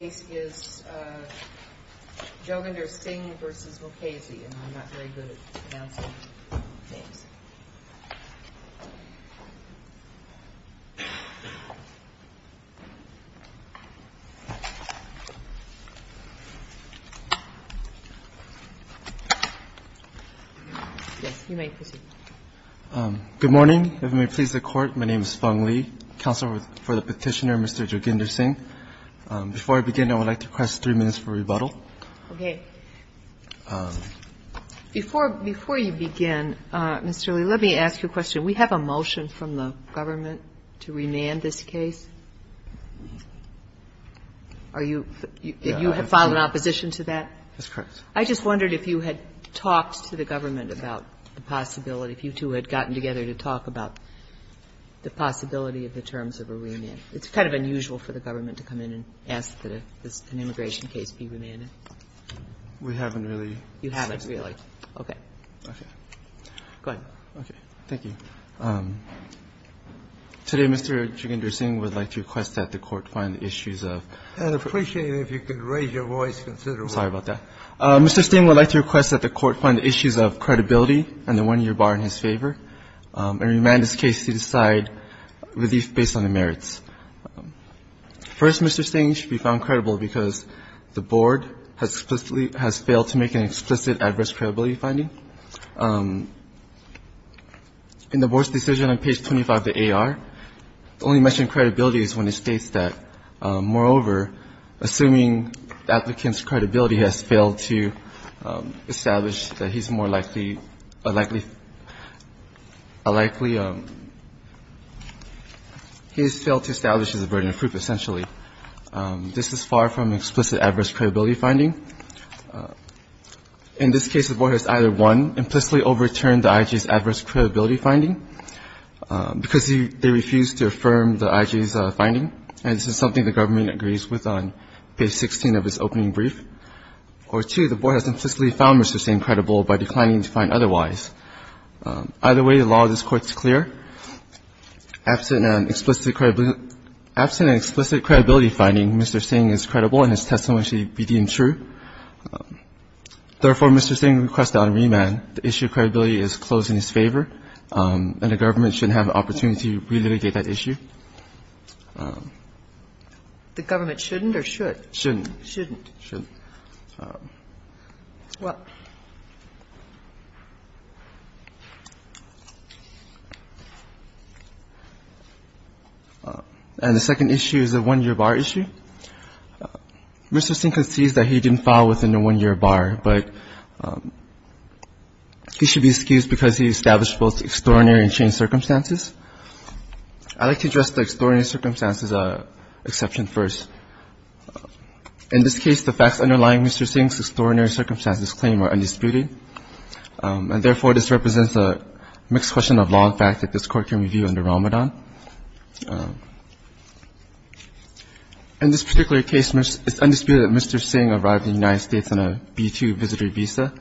is Joginder Singh v. Mukasey, and I'm not very good at pronouncing names. Yes, you may proceed. Good morning. If it may please the Court, my name is Feng Li, counsel for the Petitioner, Mr. Joginder Singh. Before I begin, I would like to request three minutes for rebuttal. Okay. Before you begin, Mr. Li, let me ask you a question. We have a motion from the government to remand this case. Are you you have filed an opposition to that? That's correct. I just wondered if you had talked to the government about the possibility, if you two had gotten together to talk about the possibility of the terms of a remand. It's kind of unusual for the government to come in and ask that an immigration case be remanded. We haven't really. You haven't really. Okay. Okay. Go ahead. Okay. Thank you. Today, Mr. Joginder Singh would like to request that the Court find the issues of the one-year bar in his favor and remand this case to decide relief based on the merits. First, Mr. Singh, you should be found credible because the Board has explicitly has failed to make an explicit adverse credibility finding. In the Board's decision on page 25 of the AR, the only mention of credibility is when it states that, moreover, assuming the applicant's credibility has failed to establish that he's more likely, a likely, a likely, he has failed to establish as a burden of proof, essentially. This is far from explicit adverse credibility finding. In this case, the Board has either, one, implicitly overturned the IG's adverse credibility finding because they refused to affirm the IG's finding, and this is a case that the Government agrees with on page 16 of its opening brief, or two, the Board has implicitly found Mr. Singh credible by declining to find otherwise. Either way, the law of this Court is clear. Absent an explicit credibility finding, Mr. Singh is credible and his testimony should be deemed true. Therefore, Mr. Singh requests that on remand, the issue of credibility is closed in his favor, and the Government should have an opportunity to relitigate that issue. The Government shouldn't or should? Shouldn't. Shouldn't. Shouldn't. Well. And the second issue is a one-year bar issue. Mr. Singh concedes that he didn't file within a one-year bar, but he should be excused because he established both extraordinary and changed circumstances. I'd like to address the extraordinary circumstances exception first. In this case, the facts underlying Mr. Singh's extraordinary circumstances claim are undisputed, and therefore, this represents a mixed question of law and fact that this Court can review under Ramadan. In this particular case, it's undisputed that Mr. Singh arrived in the United States on a B-2 visitor visa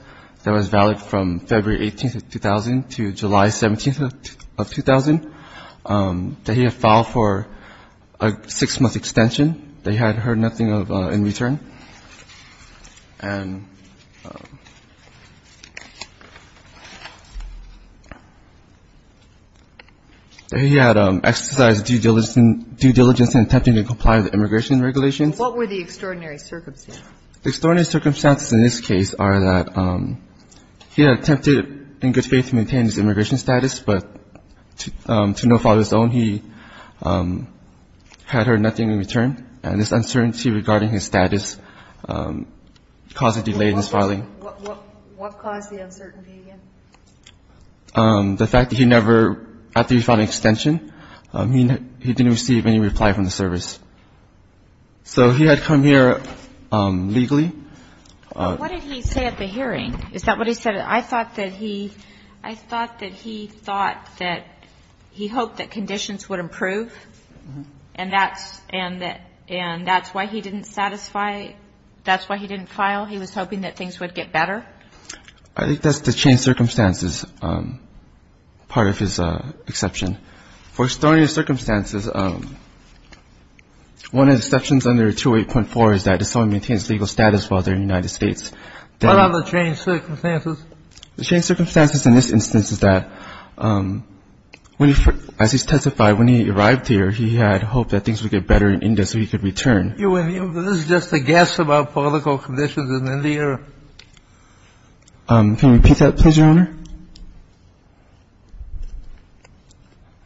that was valid from February 18th of 2000 to July 17th of 2000. That he had filed for a six-month extension. That he had heard nothing in return. And that he had exercised due diligence in attempting to comply with immigration regulations. What were the extraordinary circumstances? Extraordinary circumstances in this case are that he had attempted in good faith to maintain his immigration status, but to no fault of his own, he had heard nothing in return. And this uncertainty regarding his status caused a delay in his filing. What caused the uncertainty again? The fact that he never, after he filed an extension, he didn't receive any reply from the service. So he had come here legally. But what did he say at the hearing? Is that what he said? I thought that he thought that he hoped that conditions would improve. And that's why he didn't satisfy, that's why he didn't file. He was hoping that things would get better. I think that's the changed circumstances part of his exception. For extraordinary circumstances, one of the exceptions under 208.4 is that if someone maintains legal status while they're in the United States. What are the changed circumstances? The changed circumstances in this instance is that, as he testified, when he arrived here, he had hoped that things would get better in India so he could return. This is just a guess about political conditions in India. Can you repeat that, please, Your Honor?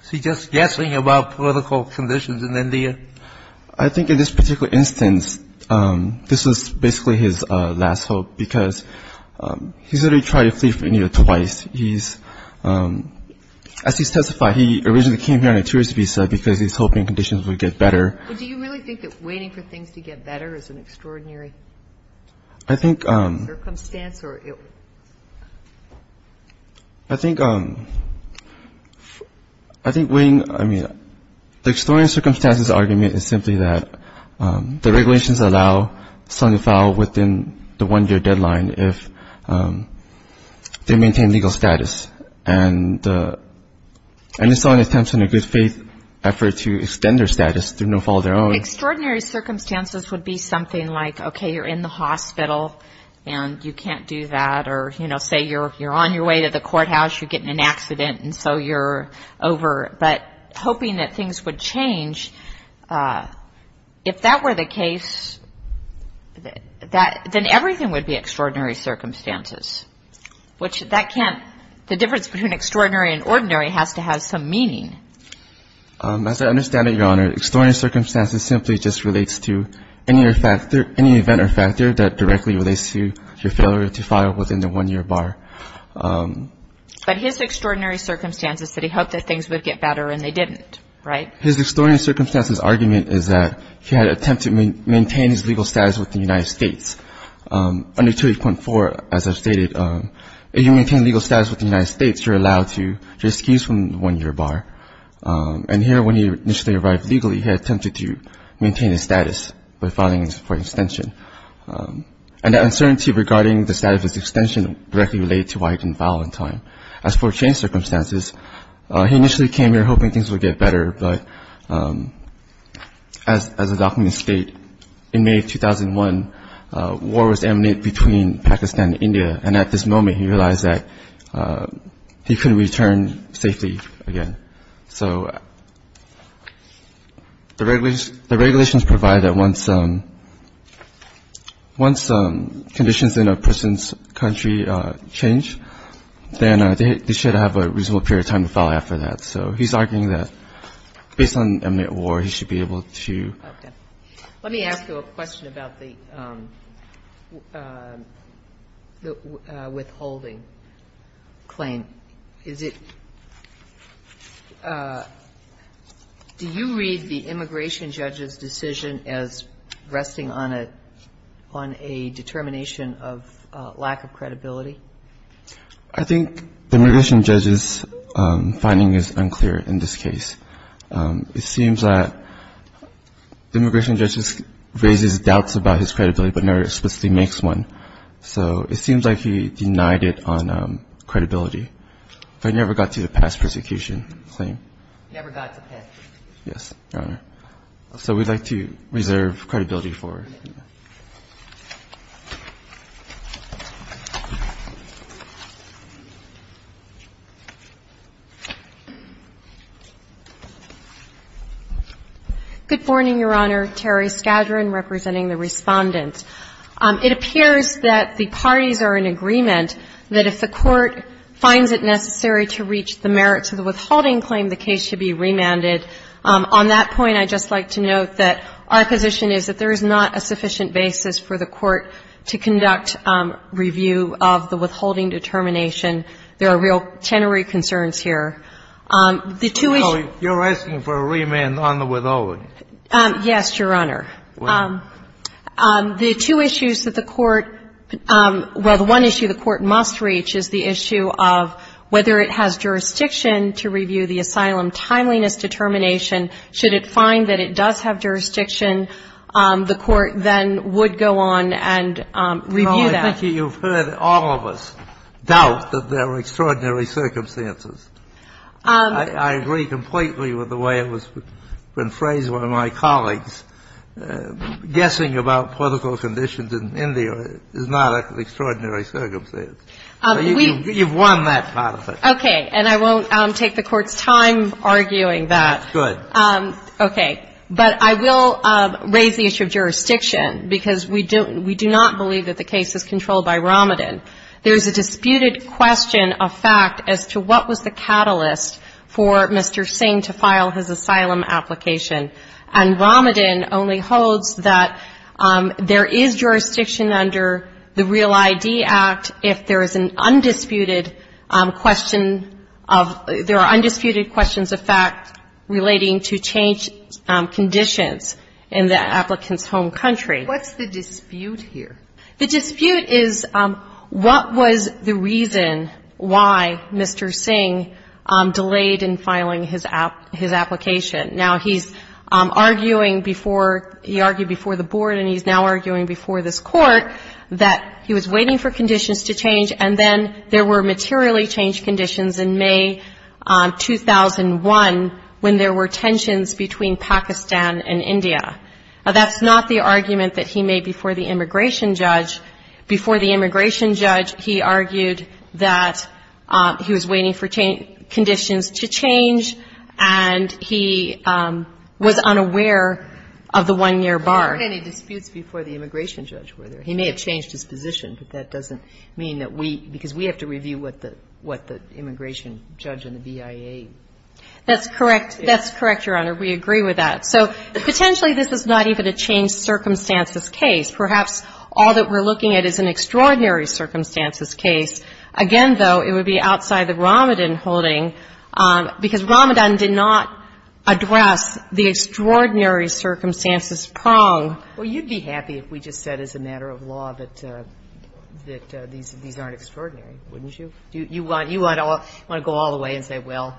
Is he just guessing about political conditions in India? I think in this particular instance, this was basically his last hope, because he's already tried to flee from India twice. He's, as he testified, he originally came here on a tourist visa because he was hoping conditions would get better. But do you really think that waiting for things to get better is an extraordinary circumstance? I think, I mean, the extraordinary circumstances argument is simply that the regulations allow someone to file within the one-year deadline if they maintain legal status. And it's not an attempt in a good faith effort to extend their status through no fault of their own. Extraordinary circumstances would be something like, okay, you're in the hospital and you can't do that, or, you know, say you're on your way to the courthouse, you get in an accident and so you're over. But hoping that things would change, if that were the case, then everything would be extraordinary circumstances, which that can't, the difference between extraordinary and ordinary has to have some meaning. As I understand it, Your Honor, extraordinary circumstances simply just relates to any event or factor that directly relates to your failure to file within the one-year bar. But his extraordinary circumstances that he hoped that things would get better and they didn't, right? His extraordinary circumstances argument is that he had attempted to maintain his legal status with the United States. Under 2.4, as I've stated, if you maintain legal status with the United States, you're allowed to, you're excused from the one-year bar. And here, when he initially arrived legally, he had attempted to maintain his status by filing for extension. And the uncertainty regarding the status of his extension directly related to why he didn't file in time. As for changed circumstances, he initially came here hoping things would get better, but as the documents state, in May of 2001, war was emanating between Pakistan and India, and at this moment, he realized that he couldn't return safely again. So the regulations provide that once conditions in a person's country change, then they should have a reasonable period of time to file after that. So he's arguing that based on a mid-war, he should be able to. Okay. Let me ask you a question about the withholding claim. Is it do you read the immigration judge's decision as resting on a determination of lack of credibility? I think the immigration judge's finding is unclear in this case. It seems that the immigration judge raises doubts about his credibility, but never explicitly makes one. So it seems like he denied it on credibility. I never got to the past persecution claim. You never got to past persecution? Yes, Your Honor. So we'd like to reserve credibility for it. Good morning, Your Honor. Teri Skadron representing the Respondent. It appears that the parties are in agreement that if the Court finds it necessary to reach the merits of the withholding claim, the case should be remanded. On that point, I'd just like to note that our position is that there is not a sufficient basis for the Court to conduct review of the withholding determination. There are real tenory concerns here. You're asking for a remand on the withholding? Yes, Your Honor. The two issues that the Court – well, the one issue the Court must reach is the issue of whether it has jurisdiction to review the asylum timeliness determination. Should it find that it does have jurisdiction, the Court then would go on and review that. No, I think you've heard all of us doubt that there are extraordinary circumstances. I agree completely with the way it was phrased by one of my colleagues. Guessing about political conditions in India is not an extraordinary circumstance. You've won that part of it. Okay. And I won't take the Court's time arguing that. Good. Okay. But I will raise the issue of jurisdiction because we do not believe that the case is controlled by Romadin. There is a disputed question of fact as to what was the catalyst for Mr. Singh to file his asylum application. And Romadin only holds that there is jurisdiction under the REAL-ID Act if there is an undisputed question of – there are undisputed questions of fact relating to changed conditions in the applicant's home country. What's the dispute here? The dispute is what was the reason why Mr. Singh delayed in filing his application? Now, he's arguing before – he argued before the Board and he's now arguing before this Court that he was waiting for conditions to change and then there were materially changed conditions in May 2001 when there were tensions between Pakistan and India. Now, that's not the argument that he made before the immigration judge. Before the immigration judge, he argued that he was waiting for conditions to change and he was unaware of the one-year bar. But there weren't any disputes before the immigration judge, were there? He may have changed his position, but that doesn't mean that we – because we have to review what the immigration judge and the BIA – That's correct. That's correct, Your Honor. We agree with that. So potentially this is not even a changed circumstances case. Perhaps all that we're looking at is an extraordinary circumstances case. Again, though, it would be outside the Romadin holding because Romadin did not address the extraordinary circumstances prong. Well, you'd be happy if we just said as a matter of law that these aren't extraordinary. Wouldn't you? You want to go all the way and say, well,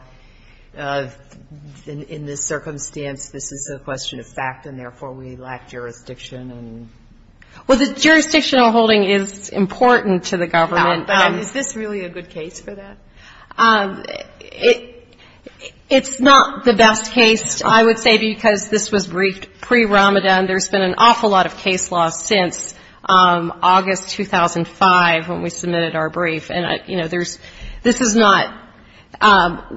in this circumstance, this is a question of fact and therefore we lack jurisdiction and – Well, the jurisdictional holding is important to the government. Is this really a good case for that? It's not the best case, I would say, because this was briefed pre-Romadin. There's been an awful lot of case law since August 2005 when we submitted our brief. And, you know, there's – this is not –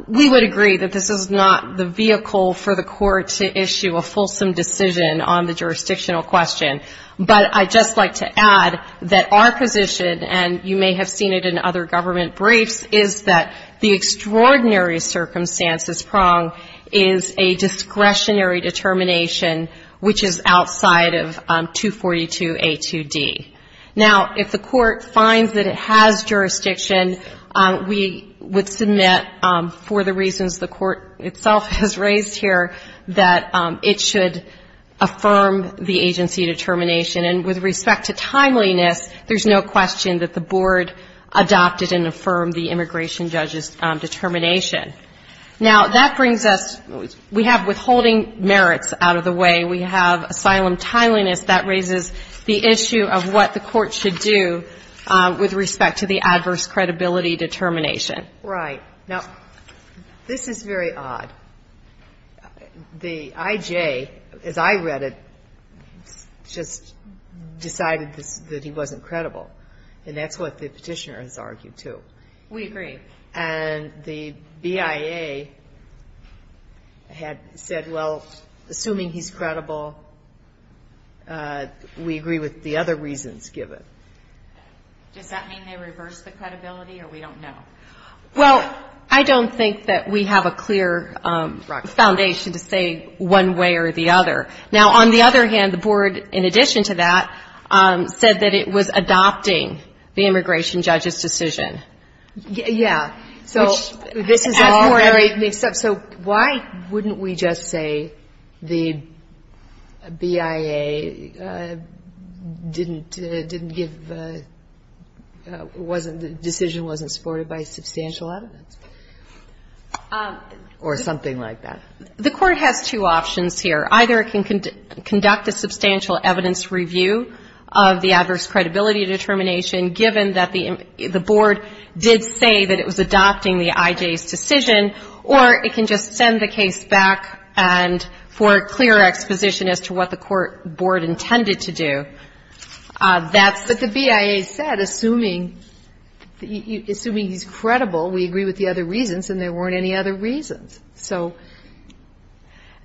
we would agree that this is not the vehicle for the court to issue a fulsome decision on the jurisdictional question. But I'd just like to add that our position, and you may have seen it in other government briefs, is that the extraordinary circumstances prong is a discretionary determination which is outside of 242A2D. Now, if the court finds that it has jurisdiction, we would submit, for the reasons the court itself has raised here, that it should affirm the agency determination. And with respect to timeliness, there's no question that the board adopted and affirmed the immigration judge's determination. Now, that brings us – we have withholding merits out of the way. We have asylum timeliness. That raises the issue of what the court should do with respect to the adverse credibility determination. Right. Now, this is very odd. The IJ, as I read it, just decided that he wasn't credible. And that's what the petitioner has argued, too. We agree. And the BIA had said, well, assuming he's credible, we agree with the other reasons given. Does that mean they reversed the credibility, or we don't know? Well, I don't think that we have a clear foundation to say one way or the other. Now, on the other hand, the board, in addition to that, said that it was adopting the immigration judge's decision. Yeah. So this is all very mixed up. So why wouldn't we just say the BIA didn't give – wasn't – the decision wasn't supported by substantial evidence, or something like that? The court has two options here. Either it can conduct a substantial evidence review of the adverse credibility determination given that the board did say that it was adopting the IJ's decision, or it can just send the case back and – for clear exposition as to what the court – board intended to do. That's – But the BIA said, assuming – assuming he's credible, we agree with the other reasons, and there weren't any other reasons. So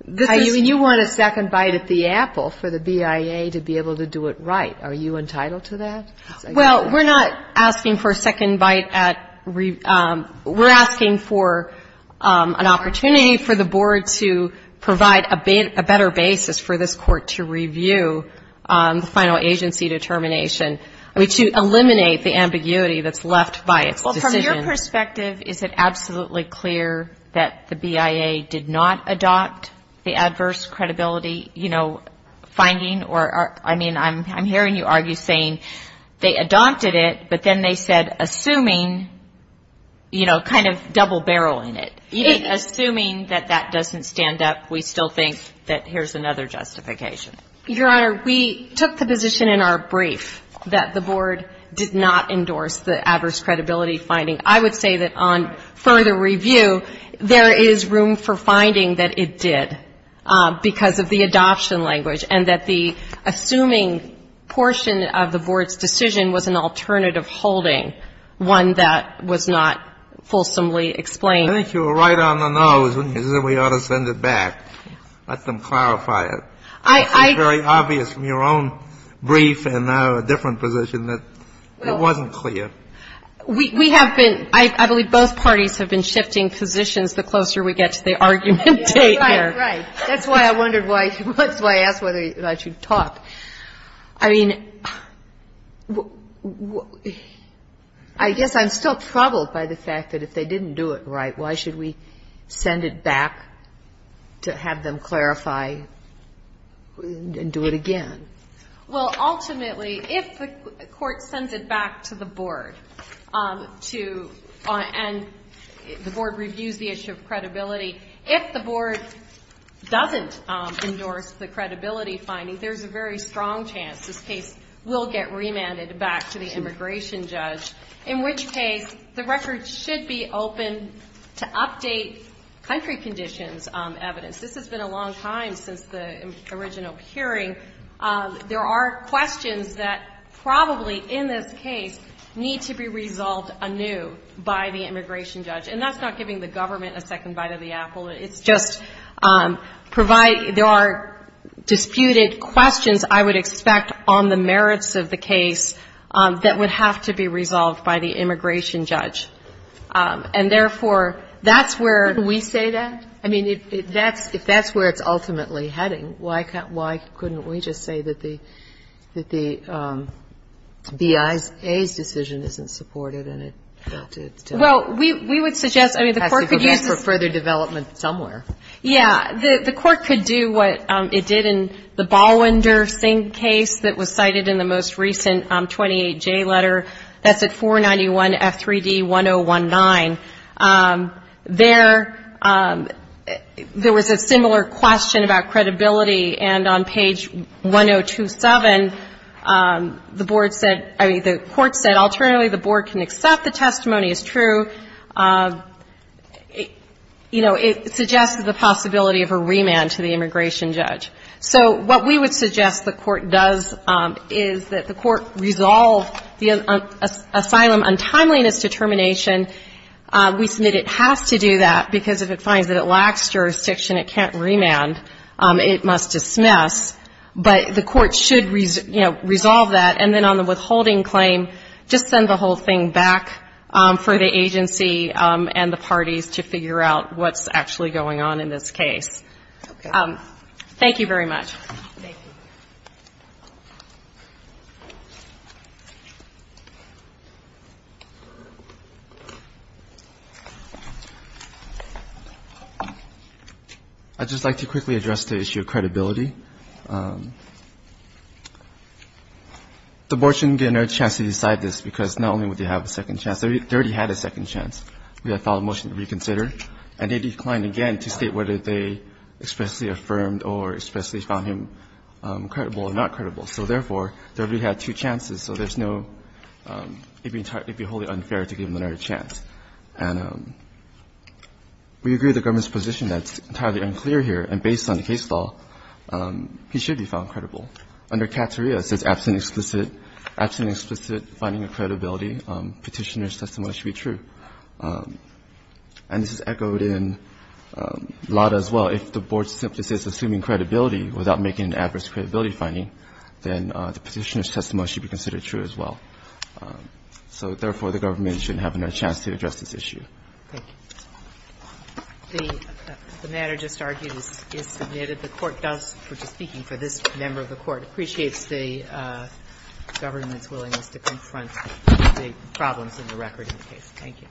this is – I mean, you want a second bite at the apple for the BIA to be able to do it right. Are you entitled to that? Well, we're not asking for a second bite at – we're asking for an opportunity for the board to provide a better basis for this court to review the final agency determination. I mean, to eliminate the ambiguity that's left by its decision. Well, from your perspective, is it absolutely clear that the BIA did not adopt the adverse credibility, you know, finding or – I mean, I'm hearing you argue saying they adopted it, but then they said, assuming, you know, kind of double-barreling it. Assuming that that doesn't stand up, we still think that here's another justification. Your Honor, we took the position in our brief that the board did not endorse the adverse credibility finding. I would say that on further review, there is room for finding that it did because of the adoption language, and that the assuming portion of the board's decision was an alternative holding, one that was not fulsomely explained. I think you were right on the nose when you said we ought to send it back. Let them clarify it. It's very obvious from your own brief and now a different position that it wasn't clear. We have been – I believe both parties have been shifting positions the closer we get to the argument date here. Right. Right. That's why I wondered why – that's why I asked whether I should talk. I mean, I guess I'm still troubled by the fact that if they didn't do it right, why should we send it back to have them clarify and do it again? Well, ultimately, if the court sends it back to the board to – and the board reviews the issue of credibility, if the board doesn't endorse the credibility finding, there's a very strong chance this case will get remanded back to the immigration judge, in which case the record should be open to update country conditions evidence. This has been a long time since the original hearing. There are questions that probably in this case need to be resolved anew by the immigration judge. And that's not giving the government a second bite of the apple. It's just provide – there are disputed questions, I would expect, on the merits of the case that would have to be resolved by the immigration judge. And therefore, that's where we say that. I mean, if that's where it's ultimately heading, why couldn't we just say that the BIA's decision isn't supported and it – Well, we would suggest – I mean, the court could use this – It has to go back for further development somewhere. Yeah. The court could do what it did in the Ballwinder Singh case that was cited in the most recent 28J letter. That's at 491 F3D 1019. There – there was a similar question about credibility. And on page 1027, the board said – I mean, the court said alternately the board can accept the testimony as true. You know, it suggests the possibility of a remand to the immigration judge. So what we would suggest the court does is that the court resolve the asylum determination. We submit it has to do that because if it finds that it lacks jurisdiction, it can't remand. It must dismiss. But the court should, you know, resolve that. And then on the withholding claim, just send the whole thing back for the agency and the parties to figure out what's actually going on in this case. Okay. Thank you very much. Thank you. I'd just like to quickly address the issue of credibility. The board shouldn't get another chance to decide this because not only would they have a second chance, they already had a second chance. We had a follow-up motion to reconsider. And they declined again to state whether they expressly affirmed or expressly found him credible or not credible. So, therefore, they already had two chances. So there's no, it would be wholly unfair to give them another chance. And we agree with the government's position that's entirely unclear here. And based on the case law, he should be found credible. Under Cateria, it says absent explicit finding of credibility, petitioner's testimony should be true. And this is echoed in LADA as well. If the board simply says assuming credibility without making an adverse credibility finding, then the petitioner's testimony should be considered true as well. So, therefore, the government shouldn't have another chance to address this issue. Thank you. The matter just argued is submitted. The Court does, speaking for this member of the Court, appreciates the government's willingness to confront the problems in the record in the case. Thank you.